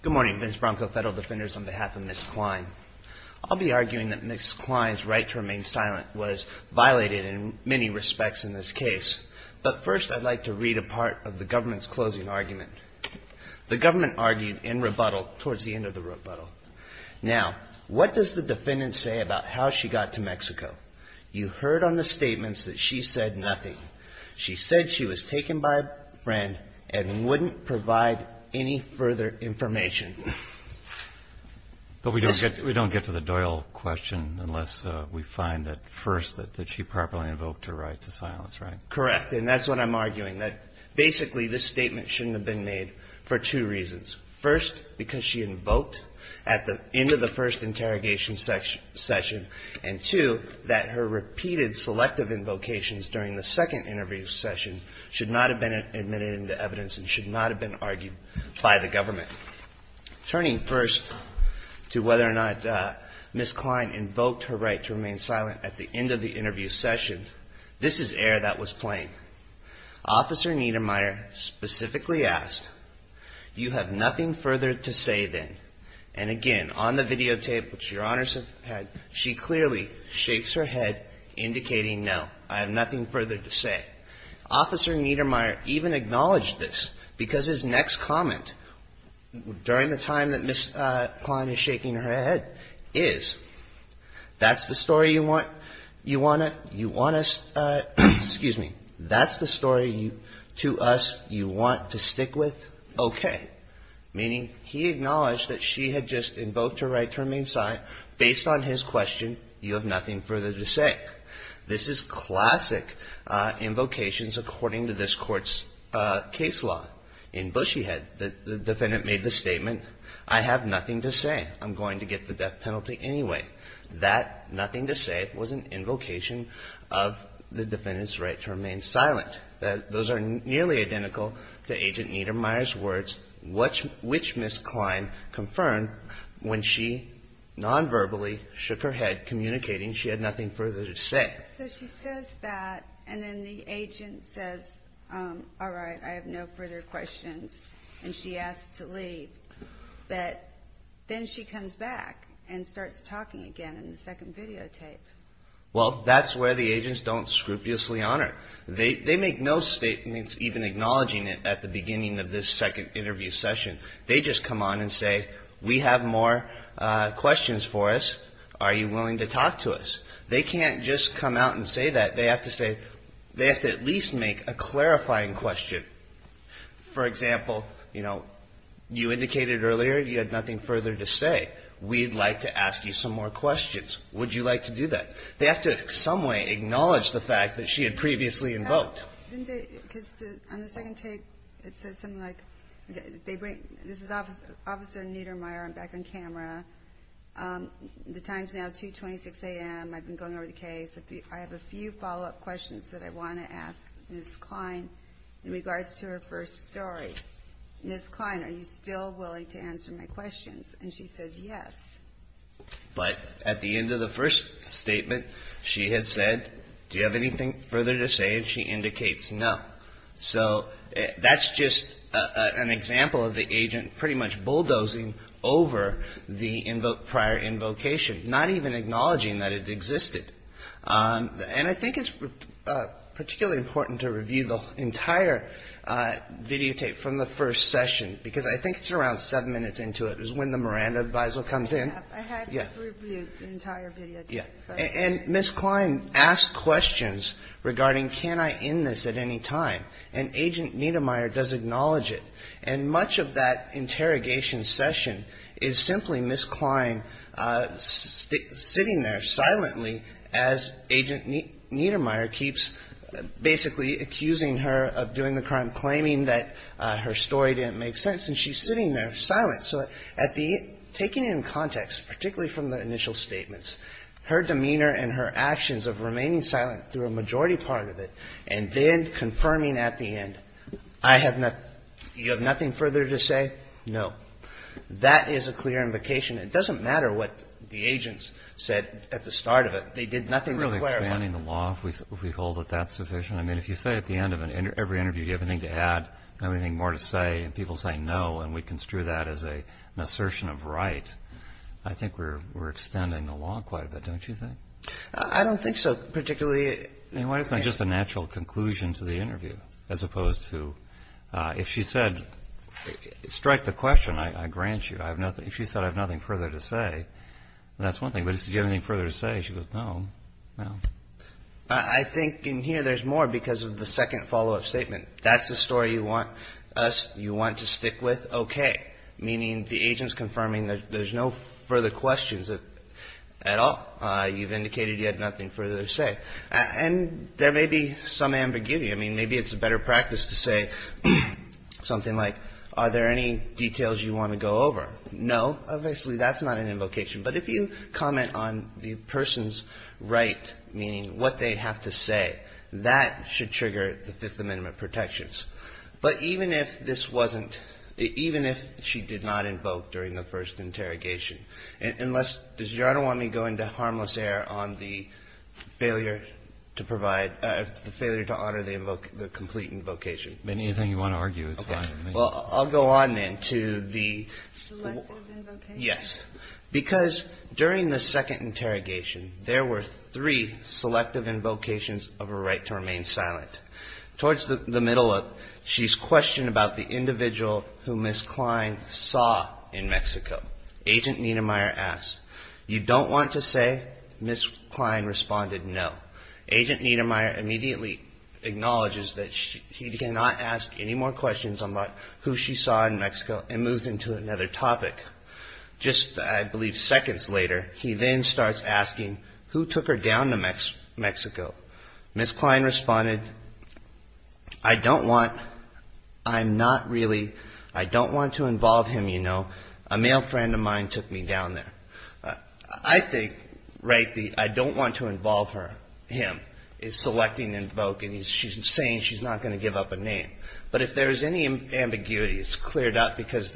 Good morning, Ms. Bronco, Federal Defenders, on behalf of Ms. Cline. I'll be arguing that Ms. Cline's right to remain silent was violated in many respects in this case, but first I'd like to read a part of the government's closing argument. The government argued in rebuttal towards the end of the rebuttal. Now, what does the defendant say about how she got to Mexico? You heard on the statements that she said nothing. She said she was taken by a friend and wouldn't provide any further information. MR. BRONCO But we don't get to the Doyle question unless we find that first that she properly invoked her right to silence, right? MR. BRONCO Correct, and that's what I'm arguing, that basically this statement shouldn't have been made for two reasons. First, because she invoked at the end of the first interrogation session, and two, that her repeated selective invocations during the second interview session should not have been admitted into evidence and should not have been argued by the government. Turning first to whether or not Ms. Cline invoked her right to remain silent at the end of the interview session, this is air that was playing. Officer Niedermeyer specifically asked, you have nothing further to say then? And again, on the videotape, which Your Honors have had, she clearly shakes her head indicating, no, I have nothing further to say. Officer Niedermeyer even acknowledged this because his next comment during the time that Ms. Cline is shaking her head is, that's the story to us you want to stick with? Okay. Meaning he acknowledged that she had just invoked her right to remain silent. Based on his question, you have nothing further to say. This is classic invocations according to this Court's case law. In Bushyhead, the defendant made the statement, I have nothing to say. I'm going to get the death penalty anyway. That nothing to say was an invocation of the defendant's right to remain silent. Those are nearly identical to Agent Niedermeyer's words, which Ms. Cline confirmed when she nonverbally shook her head communicating she had nothing further to say. So she says that, and then the agent says, all right, I have no further questions, and she asks to leave. But then she comes back and starts talking again in the second videotape. Well, that's where the agents don't scrupulously honor. They make no statements even acknowledging it at the beginning of this second interview session. They just come on and say, we have more questions for us. Are you willing to talk to us? They can't just come out and say that. They have to say, they have to at least make a clarifying question. For example, you know, you indicated earlier you had nothing further to say. We'd like to ask you some more questions. Would you like to do that? They have to in some way acknowledge the fact that she had previously invoked. On the second tape, it says something like, this is Officer Niedermeyer. I'm back on camera. The time's now 2.26 a.m. I've been going over the case. I have a few follow-up questions that I want to ask Ms. Cline in regards to her first story. Ms. Cline, are you still willing to answer my questions? And she says yes. But at the end of the first statement, she had said, do you have anything further to say, and she indicates no. So that's just an example of the agent pretty much bulldozing over the prior invocation, not even acknowledging that it existed. And I think it's particularly important to review the entire videotape from the first session, because I think it's around seven minutes into it, is when the Miranda advisal comes in. And Ms. Cline asked questions regarding can I end this at any time, and Agent Niedermeyer does acknowledge it. And much of that interrogation session is simply Ms. Cline sitting there silently as Agent Niedermeyer keeps basically accusing her of doing the crime, claiming that her story didn't make sense, and she's sitting there silent. So at the end, taking it in context, particularly from the initial statements, her demeanor and her actions of remaining silent through a majority part of it and then confirming at the end, I have nothing you have nothing further to say? No. That is a clear invocation. It doesn't matter what the agents said at the start of it. They did nothing to clarify. It's really expanding the law if we hold that that's sufficient. I mean, if you say at the end of every interview, do you have anything to add, anything more to say, and people say no, and we construe that as an assertion of right, I think we're extending the law quite a bit, don't you think? I don't think so, particularly. I mean, why isn't that just a natural conclusion to the interview, as opposed to if she said, strike the question, I grant you. If she said I have nothing further to say, that's one thing. But if you have anything further to say, she goes, no, no. I think in here there's more because of the second follow-up statement. That's the story you want us, you want to stick with, okay. Meaning the agent's confirming there's no further questions at all. You've indicated you had nothing further to say. And there may be some ambiguity. I mean, maybe it's a better practice to say something like, are there any details you want to go over? No. Obviously that's not an invocation. But if you comment on the person's right, meaning what they have to But even if this wasn't, even if she did not invoke during the first interrogation, unless, does Your Honor want me to go into harmless error on the failure to provide, the failure to honor the invocation, the complete invocation? Anything you want to argue is fine. Well, I'll go on then to the yes. Because during the second interrogation, there were three selective invocations of a right to remain silent. Towards the middle, she's questioned about the individual who Ms. Klein saw in Mexico. Agent Niedermeyer asks, you don't want to say? Ms. Klein responded, no. Agent Niedermeyer immediately acknowledges that he cannot ask any more questions about who she saw in Mexico and moves into another topic. Just, I believe, seconds later, he then starts asking, who took her down to Mexico? Ms. Klein responded, I don't want, I'm not really, I don't want to involve him, you know. A male friend of mine took me down there. I think, right, the I don't want to involve her, him, is selecting the invocation. She's saying she's not going to give up a name. But if there is any ambiguity, it's cleared up because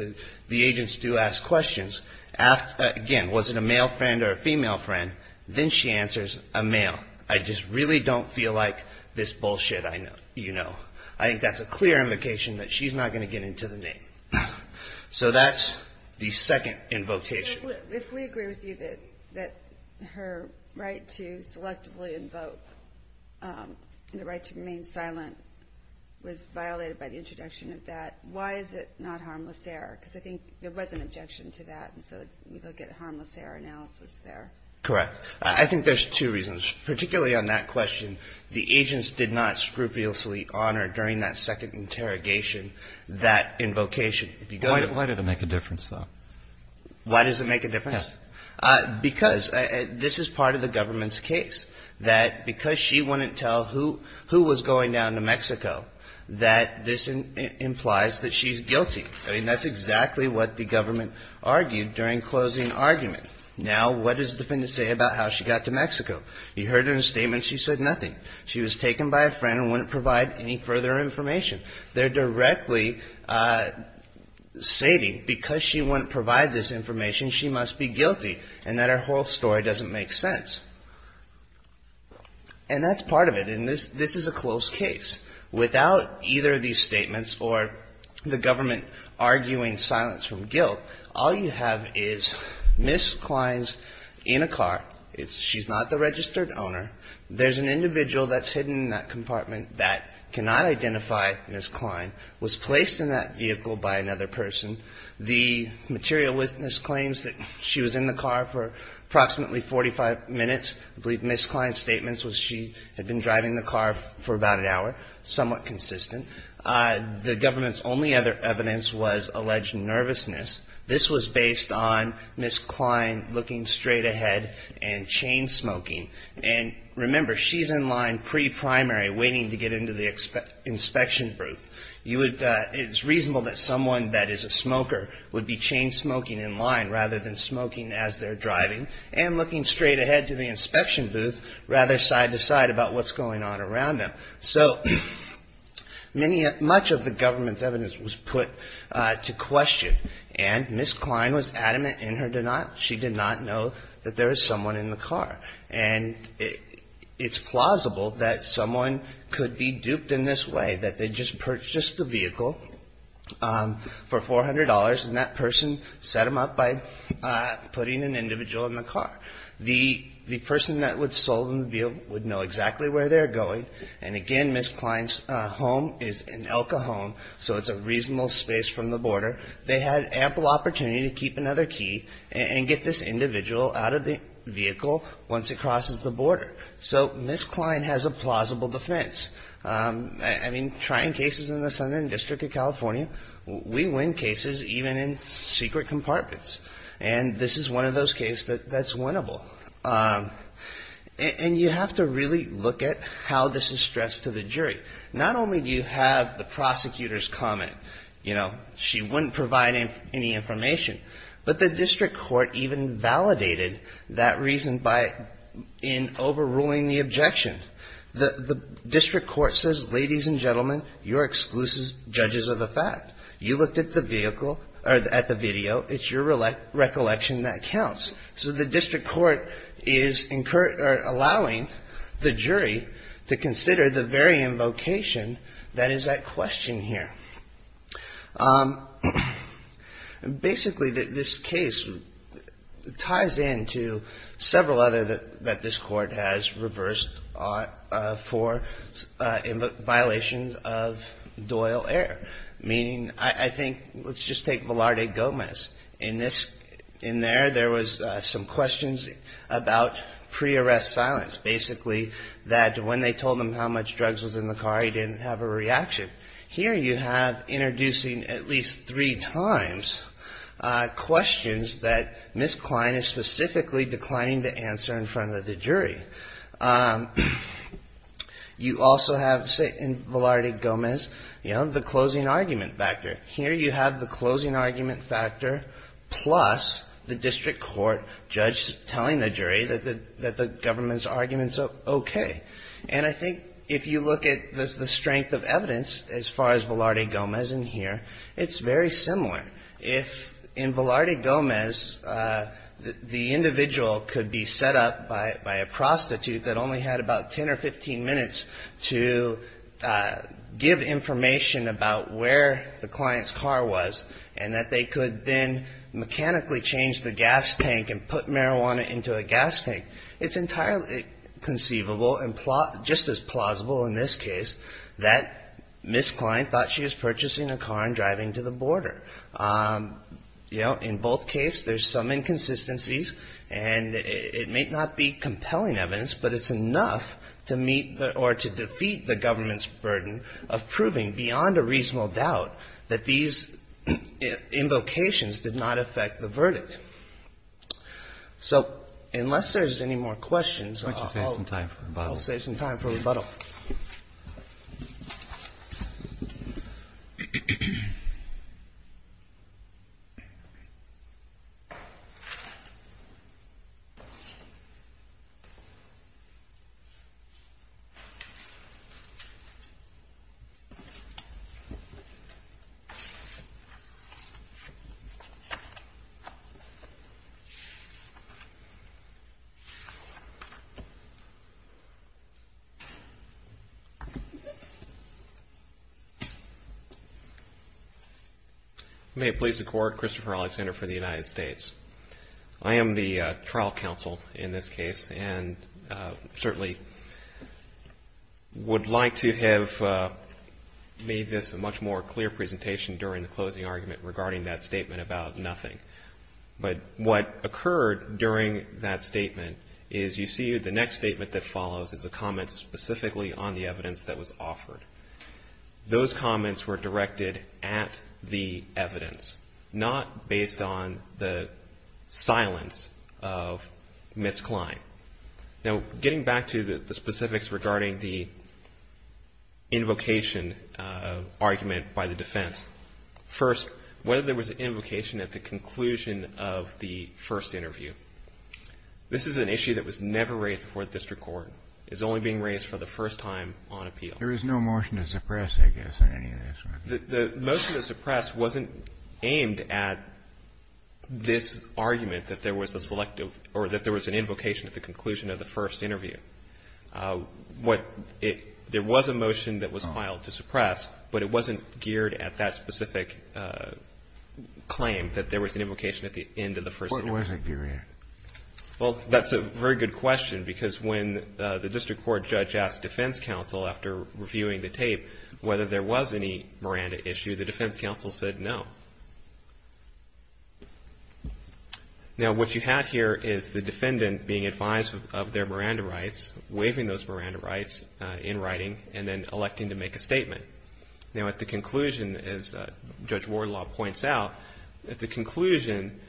the agents do ask questions. Again, was it a male friend or a female friend? Then she answers, a male. I just really don't feel like this bullshit, you know. I think that's a clear invocation that she's not going to get into the name. So that's the second invocation. If we agree with you that her right to selectively invoke the right to remain silent was violated by the introduction of that, why is it not harmless error? Because I think there was an objection to that. And so we look at harmless error analysis there. Correct. I think there's two reasons, particularly on that question. The agents did not scrupulously honor during that second interrogation that invocation. Why did it make a difference though? Why does it make a difference? Because this is part of the government's case. That because she wouldn't tell who was going down to Mexico, that this implies that she's guilty. I mean, that's exactly what the government argued during closing argument. Now, what does the defendant say about how she got to Mexico? You heard in a statement she said nothing. She was taken by a friend and wouldn't provide any further information. They're directly stating because she wouldn't provide this information, she must be guilty. And that her whole story doesn't make sense. And that's part of it. And this is a close case. Without either of these statements or the government arguing silence from guilt, all you have is Ms. Klein's in a car. She's not the registered owner. There's an individual that's hidden in that compartment that cannot identify Ms. Klein, was placed in that vehicle by another person. The material witness claims that she was in the car for approximately 45 minutes. I believe Ms. Klein's statements was she had been driving the car for about an hour, somewhat consistent. The government's only other evidence was alleged nervousness. This was based on Ms. Klein looking straight ahead and chain smoking. And remember, she's in line pre-primary waiting to get into the inspection booth. It's reasonable that someone that is a smoker would be chain smoking in line rather than smoking as they're driving. And looking straight ahead to the inspection booth, rather side to side about what's going on around them. So much of the government's evidence was put to question. And Ms. Klein was adamant in her denial. She did not know that there was someone in the car. And it's plausible that someone could be duped in this way, that they just purchased the vehicle for $400 and that person set them up by putting an individual in the car. The person that would sell them the vehicle would know exactly where they're going. And again, Ms. Klein's home is an Elka home, so it's a reasonable space from the border. They had ample opportunity to keep another key and get this individual out of the vehicle once it crosses the border. So Ms. Klein has a plausible defense. I mean, trying cases in the Southern District of California, we win cases even in secret compartments. And this is one of those cases that's winnable. And you have to really look at how this is stressed to the jury. Not only do you have the prosecutor's comment, you know, she wouldn't provide any information, but the district court even validated that reason by overruling the objection. The district court says, ladies and gentlemen, you're exclusive judges of the fact. You looked at the vehicle or at the video. It's your recollection that counts. So the district court is allowing the jury to consider the very invocation that is that question here. Basically, this case ties into several other that this court has reversed for violations of Doyle error, meaning, I think, let's just take Velarde Gomez. In there, there was some questions about pre-arrest silence. Basically, that when they told him how much drugs was in the car, he didn't have a reaction. Here you have introducing at least three times questions that Ms. Klein is specifically declining to answer in front of the jury. You also have, say, in Velarde Gomez, you know, the closing argument factor. Here you have the closing argument factor plus the district court judge telling the jury that the government's argument's okay. And I think if you look at the strength of evidence as far as Velarde Gomez in here, it's very similar. If in Velarde Gomez, the individual could be set up by a prostitute that only had about 10 or 15 minutes to give information about where the client's car was and that they could then mechanically change the gas tank and put marijuana into a gas tank, it's entirely conceivable and just as plausible in this case that Ms. Klein thought she was purchasing a car and driving to the border. You know, in both cases, there's some inconsistencies and it may not be compelling evidence, but it's enough to meet or to defeat the government's burden of proving beyond a reasonable doubt that these invocations did not affect the verdict. So unless there's any more questions, I'll save some time for rebuttal. Christopher Alexander May it please the Court, Christopher Alexander for the United States. I am the trial counsel in this case and certainly would like to have made this a much more clear presentation during the closing argument regarding that statement about nothing. But what occurred during that statement is you see the next statement that follows is a comment specifically on the evidence that was offered. Those comments were directed at the evidence, not based on the silence of Ms. Klein. Now, getting back to the specifics regarding the invocation argument by the defense, first, whether there was an invocation at the conclusion of the first interview, this is an issue that was never raised before the district court, is only being raised for the first time on appeal. There is no motion to suppress, I guess, in any of this. The motion to suppress wasn't aimed at this argument that there was a selective or that there was an invocation at the conclusion of the first interview. There was a motion that was filed to suppress, but it wasn't geared at that specific claim that there was an invocation at the end of the first interview. What was it geared at? Well, that's a very good question because when the district court judge asked defense counsel after reviewing the tape whether there was any Miranda issue, the defense counsel said no. Now, what you have here is the defendant being advised of their Miranda rights, waiving those Miranda rights in writing, and then electing to make a statement. Now, at the conclusion, as Judge Wardlaw points out, at the conclusion,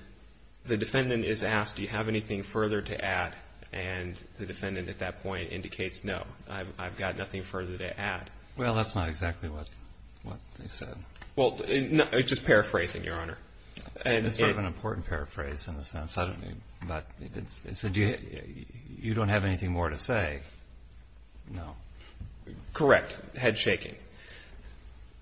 the defendant is asked, do you have anything further to add? And the defendant at that point indicates no, I've got nothing further to add. Well, that's not exactly what they said. Well, it's just paraphrasing, Your Honor. It's sort of an important paraphrase in a sense. So you don't have anything more to say? No. Correct. Head shaking.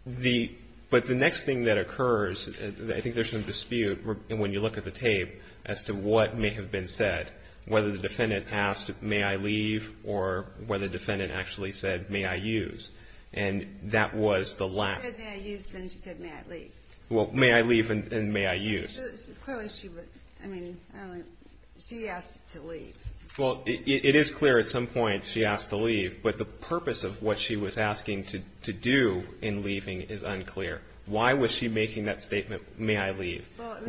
But the next thing that occurs, I think there's some dispute when you look at the tape as to what may have been said, whether the defendant asked may I leave or whether the defendant actually said may I use. And that was the lack. She said may I use, then she said may I leave. Well, may I leave and may I use. Clearly she would, I mean, she asked to leave. Well, it is clear at some point she asked to leave, but the purpose of what she was asking to do in leaving is unclear. Why was she making that statement, may I leave? Well,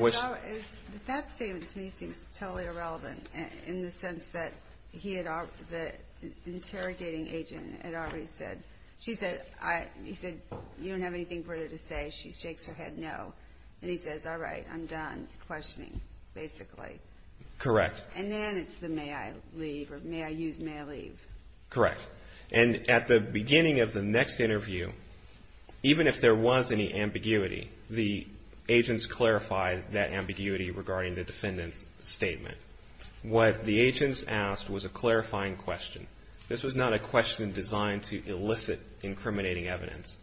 that statement to me seems totally irrelevant in the sense that he had, the interrogating agent had already said, she said, he said, you don't have anything further to say. She shakes her head no, and he says, all right, I'm done questioning, basically. Correct. And then it's the may I leave or may I use may I leave. Correct. And at the beginning of the next interview, even if there was any ambiguity, the agents clarified that ambiguity regarding the defendant's statement. What the agents asked was a clarifying question. This was not a question designed to elicit incriminating evidence.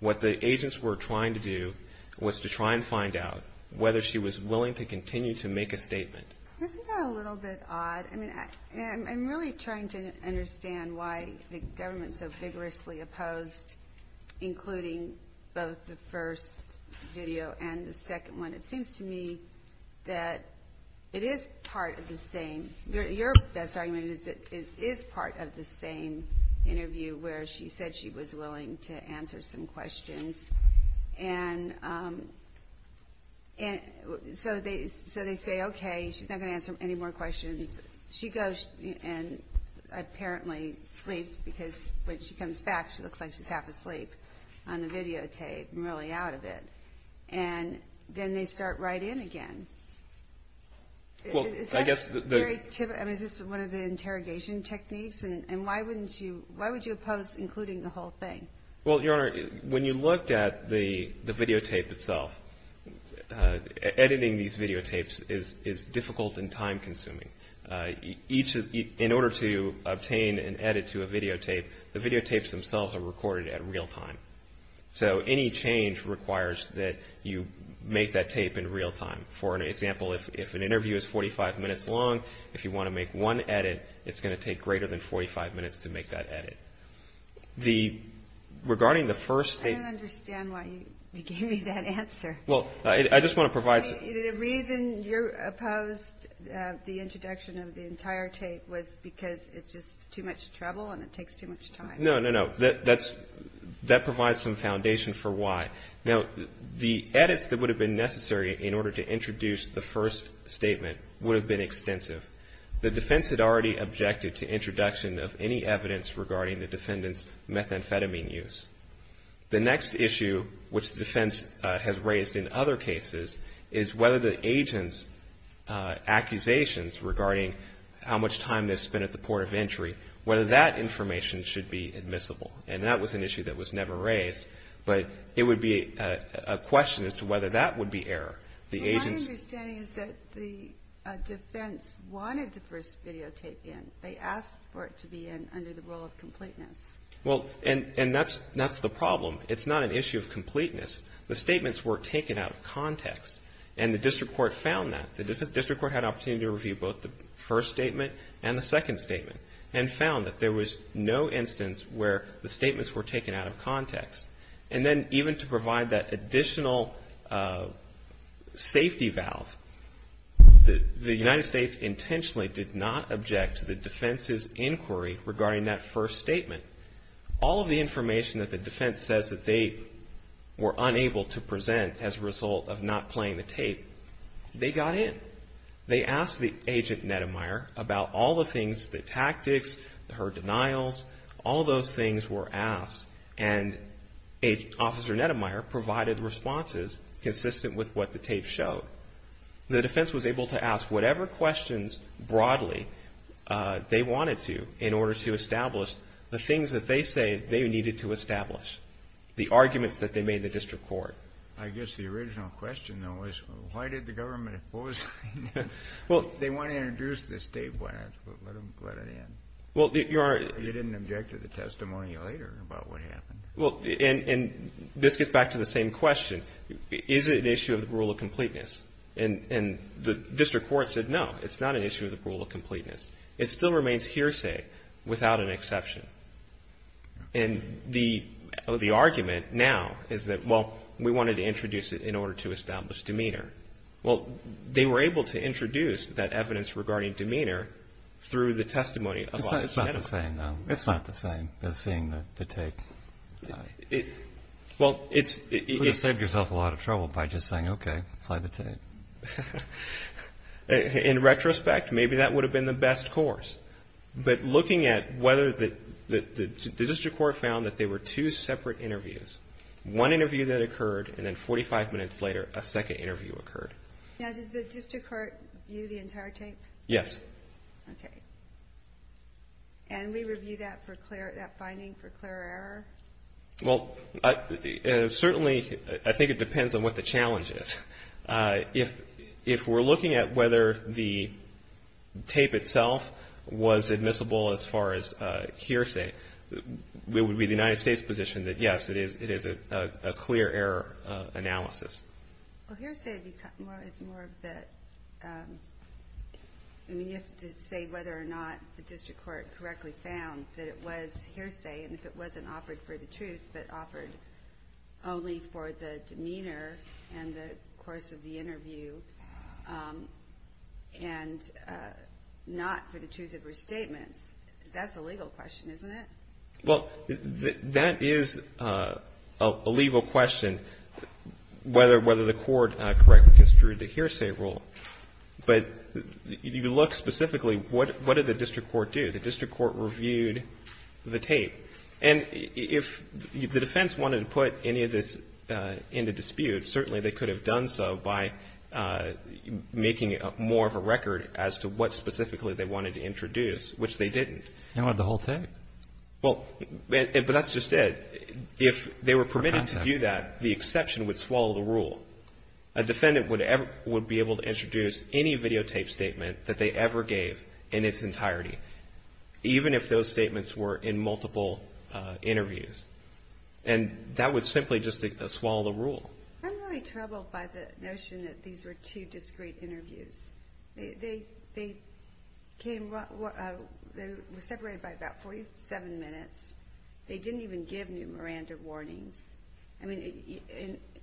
What the agents were trying to do was to try and find out whether she was willing to continue to make a statement. Isn't that a little bit odd? I mean, I'm really trying to understand why the government so vigorously opposed including both the first video and the second one. It seems to me that it is part of the same. Your best argument is that it is part of the same interview where she said she was willing to answer some questions. And so they say, okay, she's not going to answer any more questions. She goes and apparently sleeps because when she comes back, she looks like she's half asleep on the videotape and really out of it. And then they start right in again. Is this one of the interrogation techniques? And why would you oppose including the whole thing? Well, Your Honor, when you looked at the videotape itself, editing these videotapes is difficult and time consuming. In order to obtain an edit to a videotape, the videotapes themselves are recorded at real time. So any change requires that you make that tape in real time. For an example, if an interview is 45 minutes long, if you want to make one edit, it's going to take greater than 45 minutes to make that edit. The regarding the first thing. I don't understand why you gave me that answer. Well, I just want to provide. The reason you opposed the introduction of the entire tape was because it's just too much trouble and it takes too much time. No, no, no. That's that provides some foundation for why. Now, the edits that would have been necessary in order to introduce the first statement would have been extensive. The defense had already objected to introduction of any evidence regarding the defendant's methamphetamine use. The next issue, which the defense has raised in other cases, is whether the agent's accusations regarding how much time they've spent at the port of entry, whether that information should be admissible. And that was an issue that was never raised. But it would be a question as to whether that would be error. My understanding is that the defense wanted the first videotape in. They asked for it to be in under the rule of completeness. Well, and that's the problem. It's not an issue of completeness. The statements were taken out of context, and the district court found that. The district court had an opportunity to review both the first statement and the second statement and found that there was no instance where the statements were taken out of context. And then even to provide that additional safety valve, the United States intentionally did not object to the defense's inquiry regarding that first statement. All of the information that the defense says that they were unable to present as a result of not playing the tape, they got in. They asked the agent, Neddemeyer, about all the things, the tactics, her denials. All those things were asked. And Officer Neddemeyer provided responses consistent with what the tape showed. The defense was able to ask whatever questions broadly they wanted to in order to establish the things that they say they needed to establish, the arguments that they made in the district court. I guess the original question, though, was why did the government oppose it? They want to introduce this tape. Why not let it in? Well, Your Honor. You didn't object to the testimony later about what happened. Well, and this gets back to the same question. Is it an issue of the rule of completeness? And the district court said no, it's not an issue of the rule of completeness. It still remains hearsay without an exception. And the argument now is that, well, we wanted to introduce it in order to establish demeanor. Well, they were able to introduce that evidence regarding demeanor through the testimony of Officer Neddemeyer. It's not the same, though. It's not the same as seeing the tape. Well, it's – You saved yourself a lot of trouble by just saying, okay, play the tape. In retrospect, maybe that would have been the best course. But looking at whether the district court found that there were two separate interviews, one interview that occurred, and then 45 minutes later a second interview occurred. Now, did the district court view the entire tape? Yes. Okay. And we review that finding for clear error? Well, certainly I think it depends on what the challenge is. If we're looking at whether the tape itself was admissible as far as hearsay, it would be the United States' position that, yes, it is a clear error analysis. Well, hearsay is more of the – I mean, you have to say whether or not the district court correctly found that it was hearsay and if it wasn't offered for the truth but offered only for the demeanor and the course of the interview and not for the truth of her statements. That's a legal question, isn't it? Well, that is a legal question, whether the court correctly construed the hearsay rule. But if you look specifically, what did the district court do? The district court reviewed the tape. And if the defense wanted to put any of this into dispute, certainly they could have done so by making more of a record as to what specifically they wanted to introduce, which they didn't. They wanted the whole tape. Well, but that's just it. If they were permitted to do that, the exception would swallow the rule. A defendant would be able to introduce any videotape statement that they ever gave in its entirety, even if those statements were in multiple interviews. And that would simply just swallow the rule. I'm really troubled by the notion that these were two discrete interviews. They were separated by about 47 minutes. They didn't even give new Miranda warnings. I mean,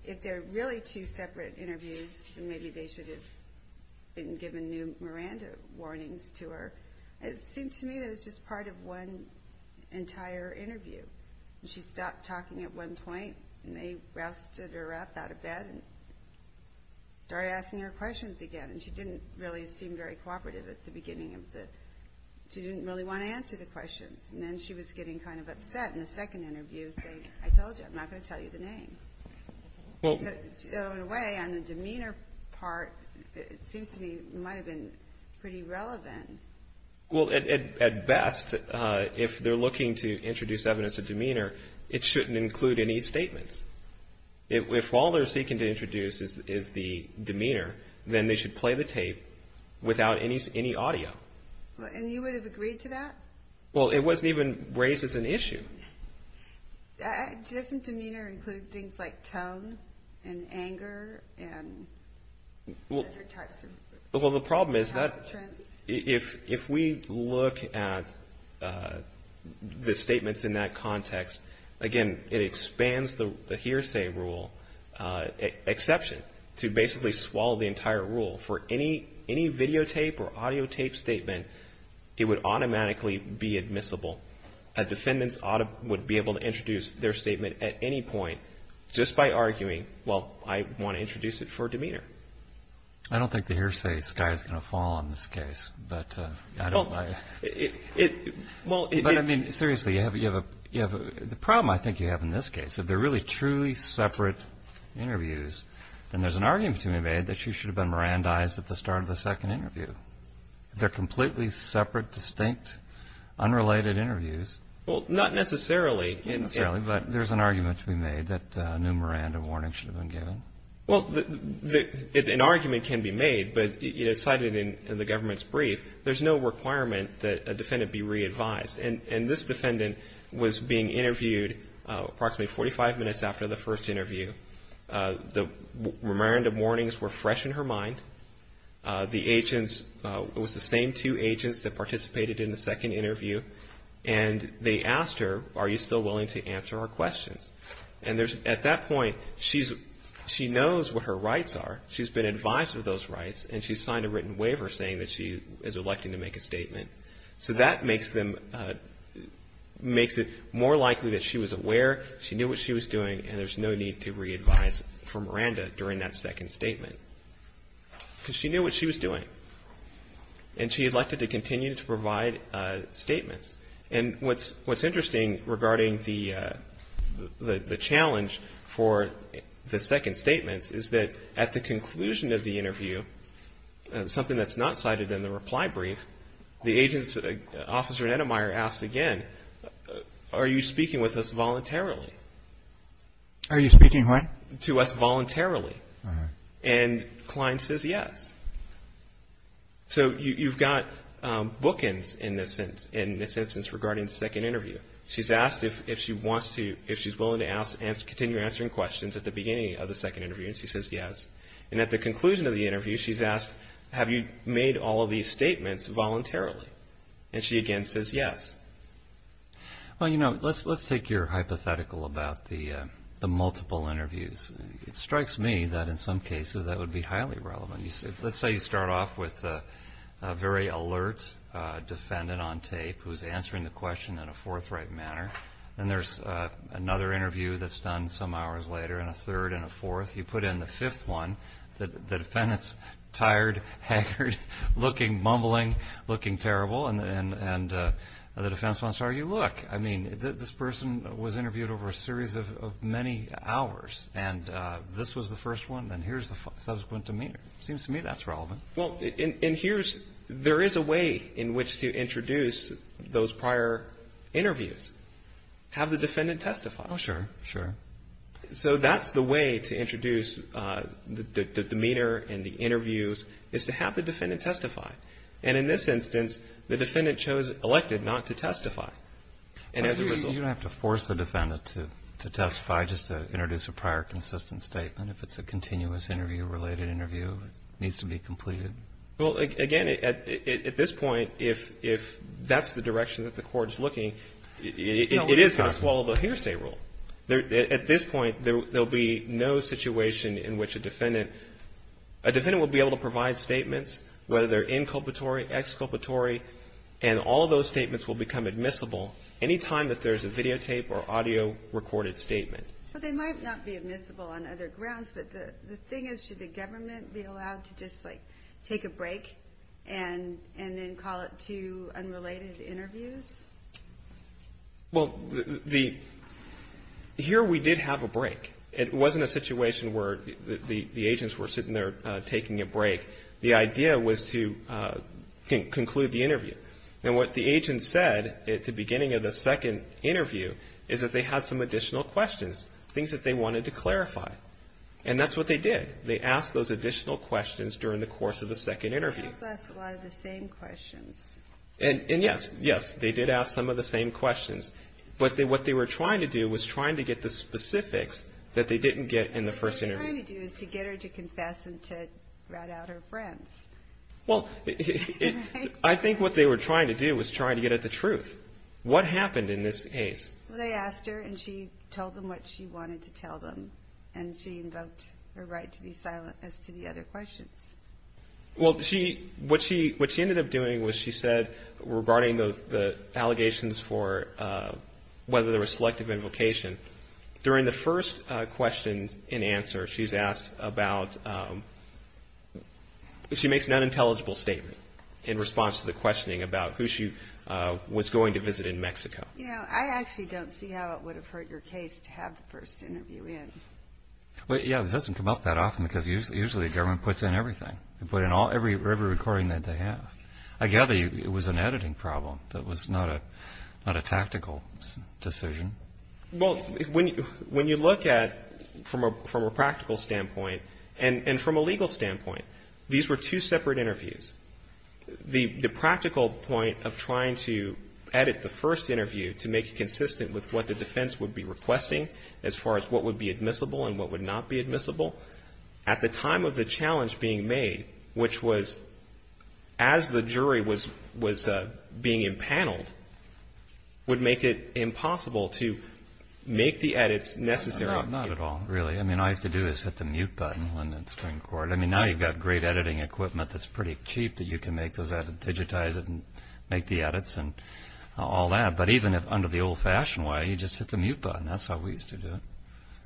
if they're really two separate interviews, then maybe they should have given new Miranda warnings to her. It seemed to me that it was just part of one entire interview. She stopped talking at one point, and they rousted her up out of bed and started asking her questions again. And she didn't really seem very cooperative at the beginning. She didn't really want to answer the questions. And then she was getting kind of upset in the second interview, saying, I told you, I'm not going to tell you the name. So in a way, on the demeanor part, it seems to me it might have been pretty relevant. Well, at best, if they're looking to introduce evidence of demeanor, it shouldn't include any statements. If all they're seeking to introduce is the demeanor, then they should play the tape without any audio. And you would have agreed to that? Well, it wasn't even raised as an issue. Doesn't demeanor include things like tone and anger and other types of trends? Well, the problem is that if we look at the statements in that context, again, it expands the hearsay rule exception to basically swallow the entire rule. For any videotape or audiotape statement, it would automatically be admissible. A defendant would be able to introduce their statement at any point just by arguing, well, I want to introduce it for demeanor. I don't think the hearsay sky is going to fall on this case. But I don't buy it. But, I mean, seriously, the problem I think you have in this case, if they're really truly separate interviews, then there's an argument to be made that you should have been Mirandized at the start of the second interview. They're completely separate, distinct, unrelated interviews. Well, not necessarily. But there's an argument to be made that a new Miranda warning should have been given. Well, an argument can be made, but as cited in the government's brief, there's no requirement that a defendant be re-advised. And this defendant was being interviewed approximately 45 minutes after the first interview. The Miranda warnings were fresh in her mind. The agents, it was the same two agents that participated in the second interview. And they asked her, are you still willing to answer our questions? And at that point, she knows what her rights are. She's been advised of those rights, and she's signed a written waiver saying that she is electing to make a statement. So that makes it more likely that she was aware, she knew what she was doing, and there's no need to re-advise for Miranda during that second statement. Because she knew what she was doing. And she elected to continue to provide statements. And what's interesting regarding the challenge for the second statement is that at the conclusion of the interview, something that's not cited in the reply brief, the agent's officer asked again, are you speaking with us voluntarily? Are you speaking what? To us voluntarily. And Klein says yes. So you've got bookends in this instance regarding the second interview. She's asked if she wants to, if she's willing to continue answering questions at the beginning of the second interview, and she says yes. And at the conclusion of the interview, she's asked, have you made all of these statements voluntarily? And she again says yes. Well, you know, let's take your hypothetical about the multiple interviews. It strikes me that in some cases that would be highly relevant. Let's say you start off with a very alert defendant on tape who's answering the question in a forthright manner, and there's another interview that's done some hours later, and a third and a fourth. You put in the fifth one, the defendant's tired, haggard, looking mumbling, looking terrible, and the defense wants to argue, look, I mean, this person was interviewed over a series of many hours, and this was the first one, and here's the subsequent demeanor. It seems to me that's relevant. Well, and here's, there is a way in which to introduce those prior interviews. Have the defendant testify. Oh, sure, sure. So that's the way to introduce the demeanor and the interviews, is to have the defendant testify. And in this instance, the defendant chose elected not to testify. You don't have to force the defendant to testify just to introduce a prior consistent statement. If it's a continuous interview, related interview, it needs to be completed. Well, again, at this point, if that's the direction that the court is looking, it is going to swallow the hearsay rule. At this point, there will be no situation in which a defendant, a defendant will be able to provide statements whether they're inculpatory, exculpatory, and all of those statements will become admissible any time that there's a videotape or audio recorded statement. Well, they might not be admissible on other grounds, but the thing is should the government be allowed to just, like, take a break and then call it two unrelated interviews? Well, here we did have a break. It wasn't a situation where the agents were sitting there taking a break. The idea was to conclude the interview. And what the agent said at the beginning of the second interview is that they had some additional questions, things that they wanted to clarify. And that's what they did. They asked those additional questions during the course of the second interview. They also asked a lot of the same questions. And, yes, yes, they did ask some of the same questions. But what they were trying to do was trying to get the specifics that they didn't get in the first interview. What they were trying to do is to get her to confess and to rat out her friends. Well, I think what they were trying to do was trying to get at the truth. What happened in this case? Well, they asked her, and she told them what she wanted to tell them, and she invoked her right to be silent as to the other questions. Well, what she ended up doing was she said regarding the allegations for whether there was selective invocation, during the first question and answer she's asked about, she makes an unintelligible statement in response to the questioning about who she was going to visit in Mexico. You know, I actually don't see how it would have hurt your case to have the first interview in. Well, yes, it doesn't come up that often because usually the government puts in everything. They put in every recording that they have. I gather it was an editing problem that was not a tactical decision. Well, when you look at it from a practical standpoint and from a legal standpoint, these were two separate interviews. The practical point of trying to edit the first interview to make it consistent with what the defense would be requesting as far as what would be admissible and what would not be admissible, at the time of the challenge being made, which was as the jury was being impaneled, would make it impossible to make the edits necessary. No, not at all, really. I mean, all you have to do is hit the mute button when it's going to record. I mean, now you've got great editing equipment that's pretty cheap that you can make those edits, digitize it, and make the edits and all that. But even under the old-fashioned way, you just hit the mute button. That's how we used to do it.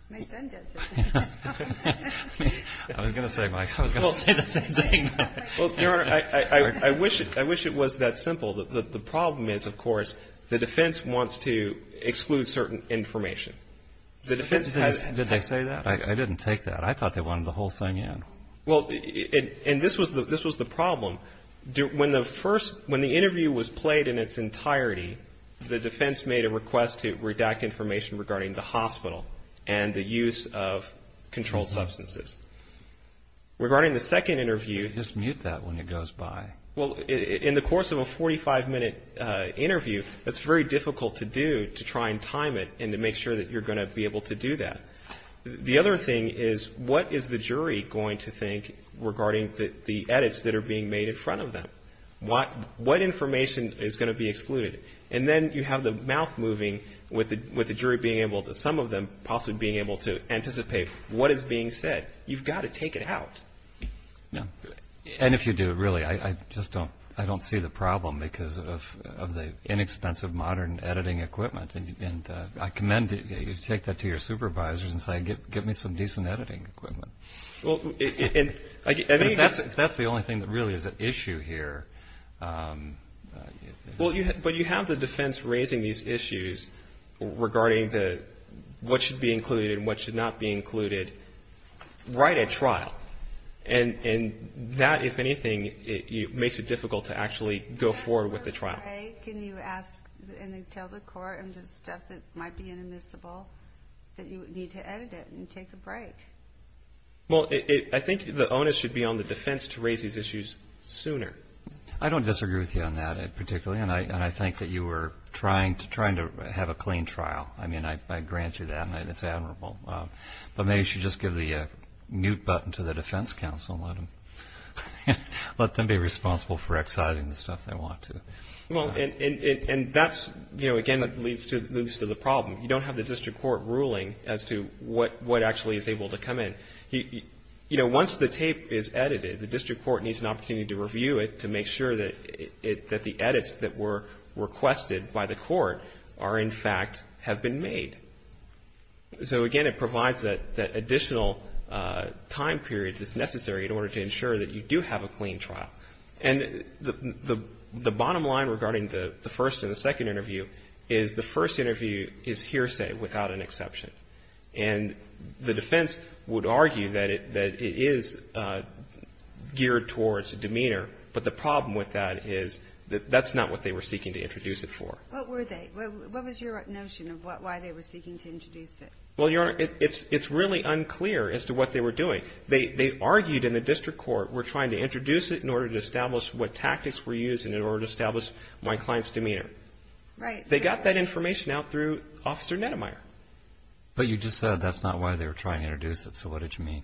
My son does it. I was going to say, Mike, I was going to say the same thing. Well, Your Honor, I wish it was that simple. The problem is, of course, the defense wants to exclude certain information. Did they say that? I didn't take that. I thought they wanted the whole thing in. Well, and this was the problem. When the interview was played in its entirety, the defense made a request to redact information regarding the hospital and the use of controlled substances. Regarding the second interview. You just mute that when it goes by. Well, in the course of a 45-minute interview, it's very difficult to do, to try and time it and to make sure that you're going to be able to do that. The other thing is, what is the jury going to think regarding the edits that are being made in front of them? What information is going to be excluded? And then you have the mouth moving with the jury being able to, some of them possibly being able to anticipate what is being said. You've got to take it out. And if you do, really, I just don't see the problem because of the inexpensive modern editing equipment. And I commend that you take that to your supervisors and say, get me some decent editing equipment. If that's the only thing that really is at issue here. But you have the defense raising these issues regarding what should be included and what should not be included right at trial. And that, if anything, makes it difficult to actually go forward with the trial. Can you ask and tell the court and the staff that might be inadmissible that you need to edit it and take a break? Well, I think the onus should be on the defense to raise these issues sooner. I don't disagree with you on that particularly. And I think that you were trying to have a clean trial. I mean, I grant you that. And it's admirable. But maybe you should just give the mute button to the defense counsel and let them be responsible for exciting the stuff they want to. Well, and that's, you know, again, that leads to the problem. You don't have the district court ruling as to what actually is able to come in. You know, once the tape is edited, the district court needs an opportunity to review it to make sure that the edits that were requested by the court are, in fact, have been made. So, again, it provides that additional time period that's necessary in order to ensure that you do have a clean trial. And the bottom line regarding the first and the second interview is the first interview is hearsay without an exception. And the defense would argue that it is geared towards demeanor, but the problem with that is that that's not what they were seeking to introduce it for. What were they? What was your notion of why they were seeking to introduce it? Well, Your Honor, it's really unclear as to what they were doing. They argued in the district court, we're trying to introduce it in order to establish what tactics were used in order to establish my client's demeanor. Right. And they got that information out through Officer Neddemeyer. But you just said that's not why they were trying to introduce it. So what did you mean?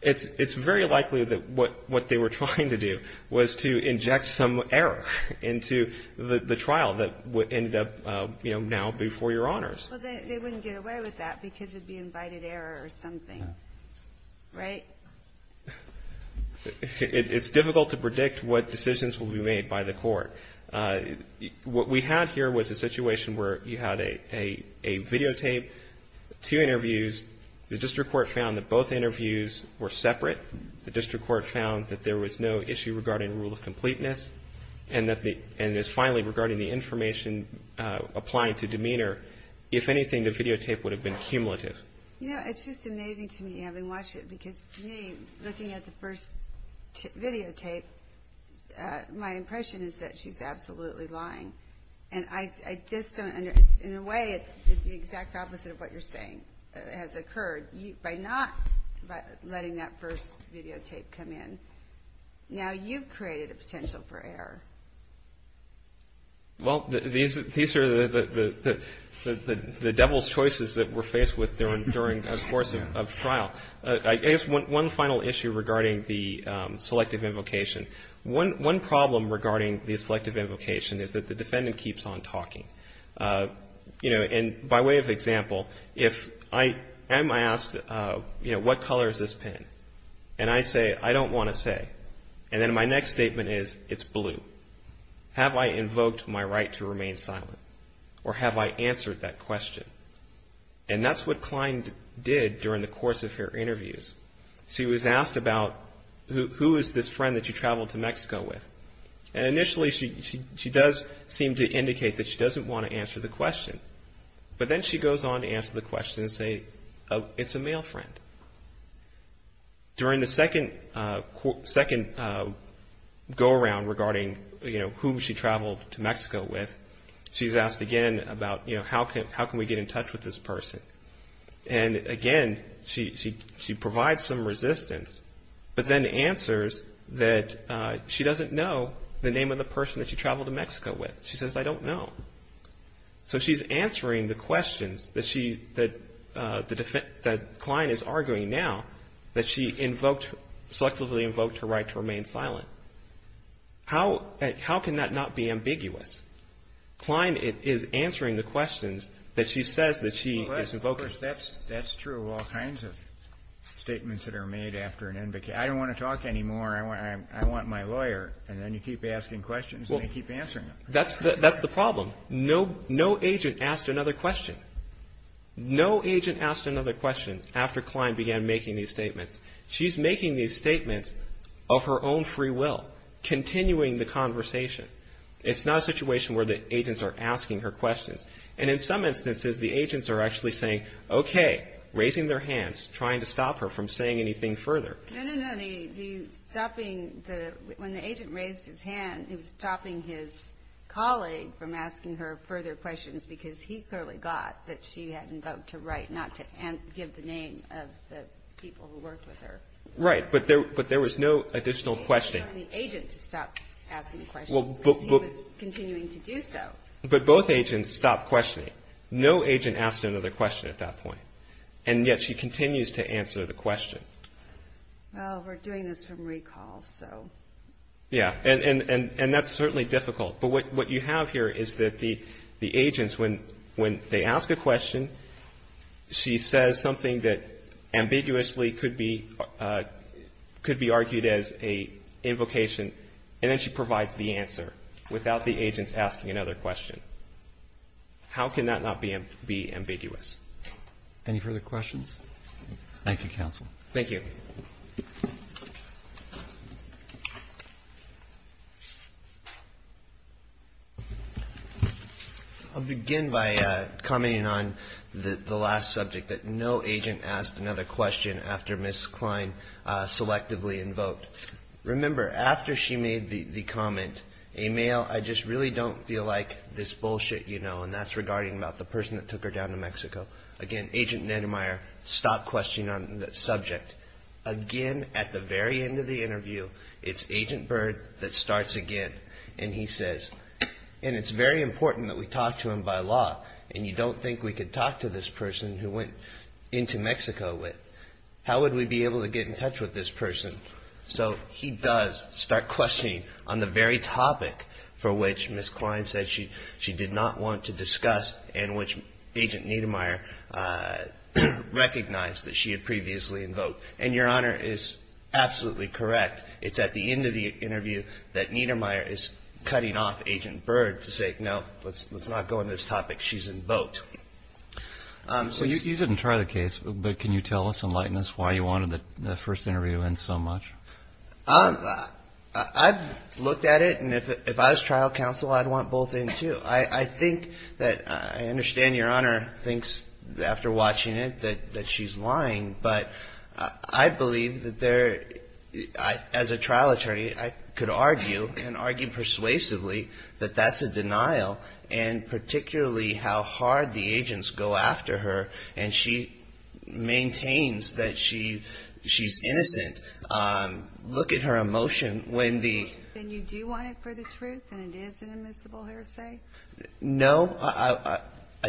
It's very likely that what they were trying to do was to inject some error into the trial that ended up, you know, now before Your Honors. Well, they wouldn't get away with that because it would be invited error or something. Right? It's difficult to predict what decisions will be made by the court. What we had here was a situation where you had a videotape, two interviews. The district court found that both interviews were separate. The district court found that there was no issue regarding rule of completeness and that finally regarding the information applying to demeanor. If anything, the videotape would have been cumulative. You know, it's just amazing to me having watched it because to me, looking at the first videotape, my impression is that she's absolutely lying. And I just don't understand. In a way, it's the exact opposite of what you're saying has occurred. By not letting that first videotape come in, now you've created a potential for error. Well, these are the devil's choices that we're faced with during a course of trial. I guess one final issue regarding the selective invocation. One problem regarding the selective invocation is that the defendant keeps on talking. You know, and by way of example, if I am asked, you know, what color is this pin? And I say, I don't want to say. And then my next statement is, it's blue. Have I invoked my right to remain silent? Or have I answered that question? And that's what Klein did during the course of her interviews. She was asked about who is this friend that you traveled to Mexico with? And initially, she does seem to indicate that she doesn't want to answer the question. But then she goes on to answer the question and say, it's a male friend. During the second go-around regarding, you know, who she traveled to Mexico with, she's asked again about, you know, how can we get in touch with this person? And again, she provides some resistance, but then answers that she doesn't know the name of the person that she traveled to Mexico with. She says, I don't know. So she's answering the questions that Klein is arguing now that she selectively invoked her right to remain silent. How can that not be ambiguous? Klein is answering the questions that she says that she has invoked. That's true of all kinds of statements that are made after an invocation. I don't want to talk anymore. I want my lawyer. And then you keep asking questions and they keep answering them. That's the problem. No agent asked another question. No agent asked another question after Klein began making these statements. She's making these statements of her own free will, continuing the conversation. It's not a situation where the agents are asking her questions. And in some instances, the agents are actually saying, okay, raising their hands, trying to stop her from saying anything further. No, no, no. When the agent raised his hand, he was stopping his colleague from asking her further questions because he clearly got that she had invoked her right not to give the name of the people who worked with her. Right, but there was no additional questioning. He told the agent to stop asking questions because he was continuing to do so. But both agents stopped questioning. No agent asked another question at that point. And yet she continues to answer the question. Well, we're doing this from recall, so. Yeah, and that's certainly difficult. But what you have here is that the agents, when they ask a question, she says something that ambiguously could be argued as an invocation, and then she provides the answer without the agents asking another question. How can that not be ambiguous? Any further questions? Thank you, counsel. Thank you. I'll begin by commenting on the last subject, that no agent asked another question after Ms. Klein selectively invoked. Remember, after she made the comment, a male, I just really don't feel like this bullshit, you know, and that's regarding about the person that took her down to Mexico. Again, Agent Neddemeyer stopped questioning on that subject. Again, at the very end of the interview, it's Agent Byrd that starts again, and he says, and it's very important that we talk to him by law, and you don't think we could talk to this person who went into Mexico with. How would we be able to get in touch with this person? So he does start questioning on the very topic for which Ms. Klein said she did not want to discuss and which Agent Neddemeyer recognized that she had previously invoked. And Your Honor is absolutely correct. It's at the end of the interview that Neddemeyer is cutting off Agent Byrd to say, no, let's not go into this topic. She's invoked. So you didn't try the case, but can you tell us, Enlighten us why you wanted the first interview in so much? I've looked at it, and if I was trial counsel, I'd want both in too. I think that I understand Your Honor thinks after watching it that she's lying, but I believe that there, as a trial attorney, I could argue, and argue persuasively that that's a denial, and particularly how hard the agents go after her, and she maintains that she's innocent. Look at her emotion when the. Then you do want it for the truth, and it is an immiscible heresy? No, I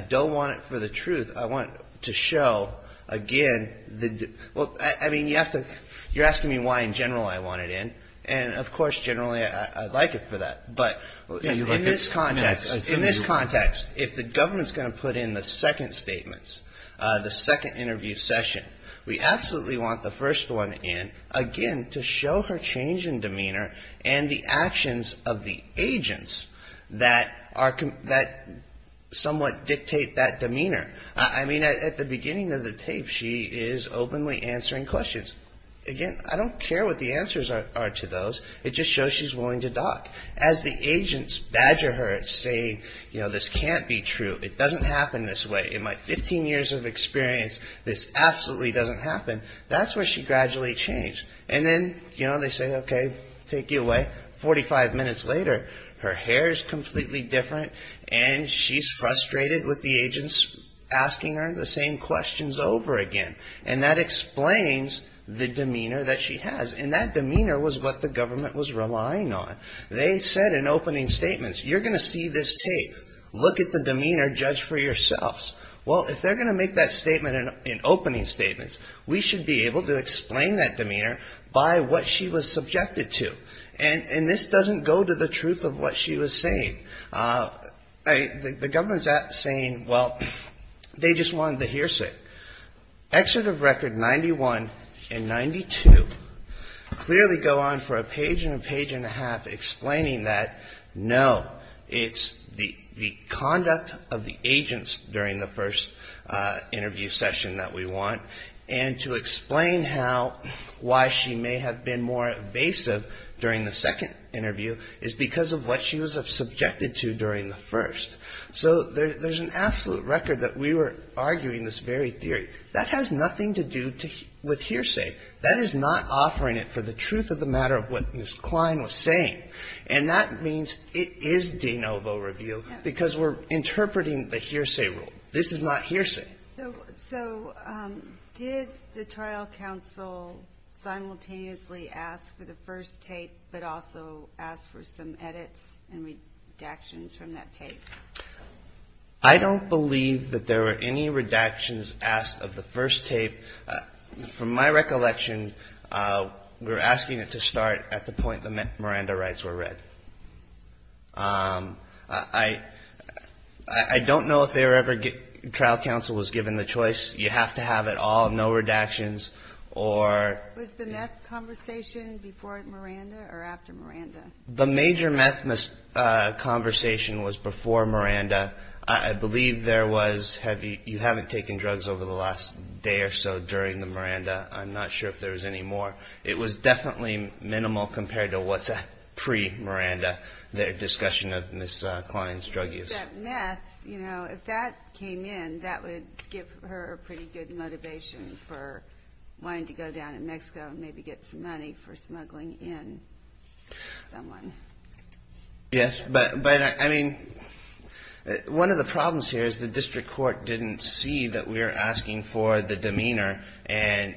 don't want it for the truth. I want to show, again, the. Well, I mean, you have to. You're asking me why in general I want it in. And, of course, generally I'd like it for that. In this context, if the government's going to put in the second statements, the second interview session, we absolutely want the first one in, again, to show her change in demeanor and the actions of the agents that somewhat dictate that demeanor. I mean, at the beginning of the tape, she is openly answering questions. Again, I don't care what the answers are to those. It just shows she's willing to talk. As the agents badger her and say, you know, this can't be true. It doesn't happen this way. In my 15 years of experience, this absolutely doesn't happen. That's where she gradually changed. And then, you know, they say, okay, take it away. Forty-five minutes later, her hair is completely different, and she's frustrated with the agents asking her the same questions over again, and that explains the demeanor that she has. And that demeanor was what the government was relying on. They said in opening statements, you're going to see this tape. Look at the demeanor. Judge for yourselves. Well, if they're going to make that statement in opening statements, we should be able to explain that demeanor by what she was subjected to. And this doesn't go to the truth of what she was saying. The government's saying, well, they just wanted the hearsay. Exit of record 91 and 92 clearly go on for a page and a page and a half explaining that, no, it's the conduct of the agents during the first interview session that we want. And to explain how why she may have been more evasive during the second interview is because of what she was subjected to during the first. So there's an absolute record that we were arguing this very theory. That has nothing to do with hearsay. That is not offering it for the truth of the matter of what Ms. Klein was saying. And that means it is de novo reveal because we're interpreting the hearsay rule. This is not hearsay. So did the trial counsel simultaneously ask for the first tape but also ask for some edits and redactions from that tape? I don't believe that there were any redactions asked of the first tape. From my recollection, we're asking it to start at the point the Miranda rights were read. I don't know if they were ever trial counsel was given the choice. You have to have it all, no redactions or. Was the meth conversation before Miranda or after Miranda? The major meth conversation was before Miranda. I believe there was, you haven't taken drugs over the last day or so during the Miranda. I'm not sure if there was any more. It was definitely minimal compared to what's pre-Miranda, their discussion of Ms. Klein's drug use. That meth, you know, if that came in, that would give her a pretty good motivation for wanting to go down to Mexico and maybe get some money for smuggling in someone. Yes, but I mean, one of the problems here is the district court didn't see that we were asking for the demeanor and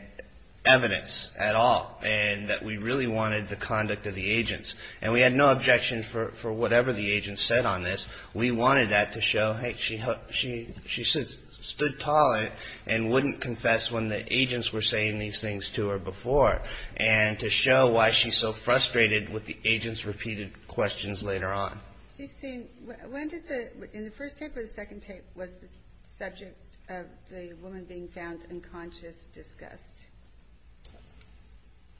evidence at all and that we really wanted the conduct of the agents. And we had no objection for whatever the agents said on this. We wanted that to show, hey, she stood tall and wouldn't confess when the agents were saying these things to her before and to show why she's so frustrated with the agents' repeated questions later on. When did the, in the first tape or the second tape, was the subject of the woman being found unconscious discussed?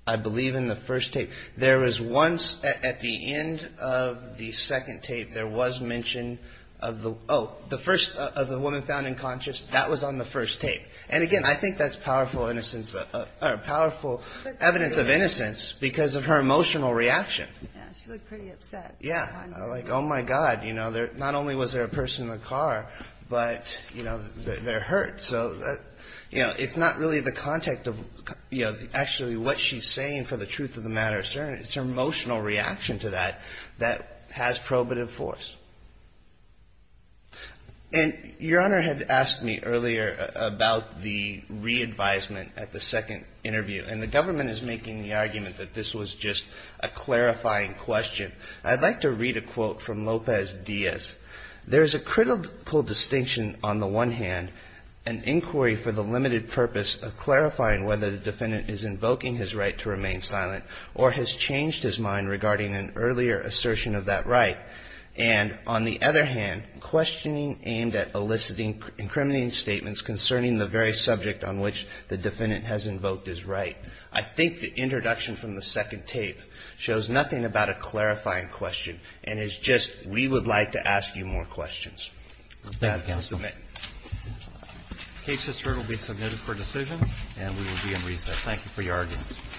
I believe in the first tape. There was once, at the end of the second tape, there was mention of the, oh, the first of the woman found unconscious, that was on the first tape. And again, I think that's powerful evidence of innocence because of her emotional reaction. Yeah, she looked pretty upset. Yeah. Like, oh, my God. You know, not only was there a person in the car, but, you know, they're hurt. So, you know, it's not really the context of, you know, actually what she's saying for the truth of the matter, it's her emotional reaction to that that has probative force. And Your Honor had asked me earlier about the re-advisement at the second interview. And the government is making the argument that this was just a clarifying question. I'd like to read a quote from Lopez Diaz. There is a critical distinction on the one hand, an inquiry for the limited purpose of clarifying whether the defendant is invoking his right to remain silent or has changed his mind regarding an earlier assertion of that right. And on the other hand, questioning aimed at eliciting incriminating statements concerning the very subject on which the defendant has invoked his right. I think the introduction from the second tape shows nothing about a clarifying question and is just we would like to ask you more questions. Thank you, counsel. That can submit. Case history will be submitted for decision. And we will be in recess. Thank you for your arguments.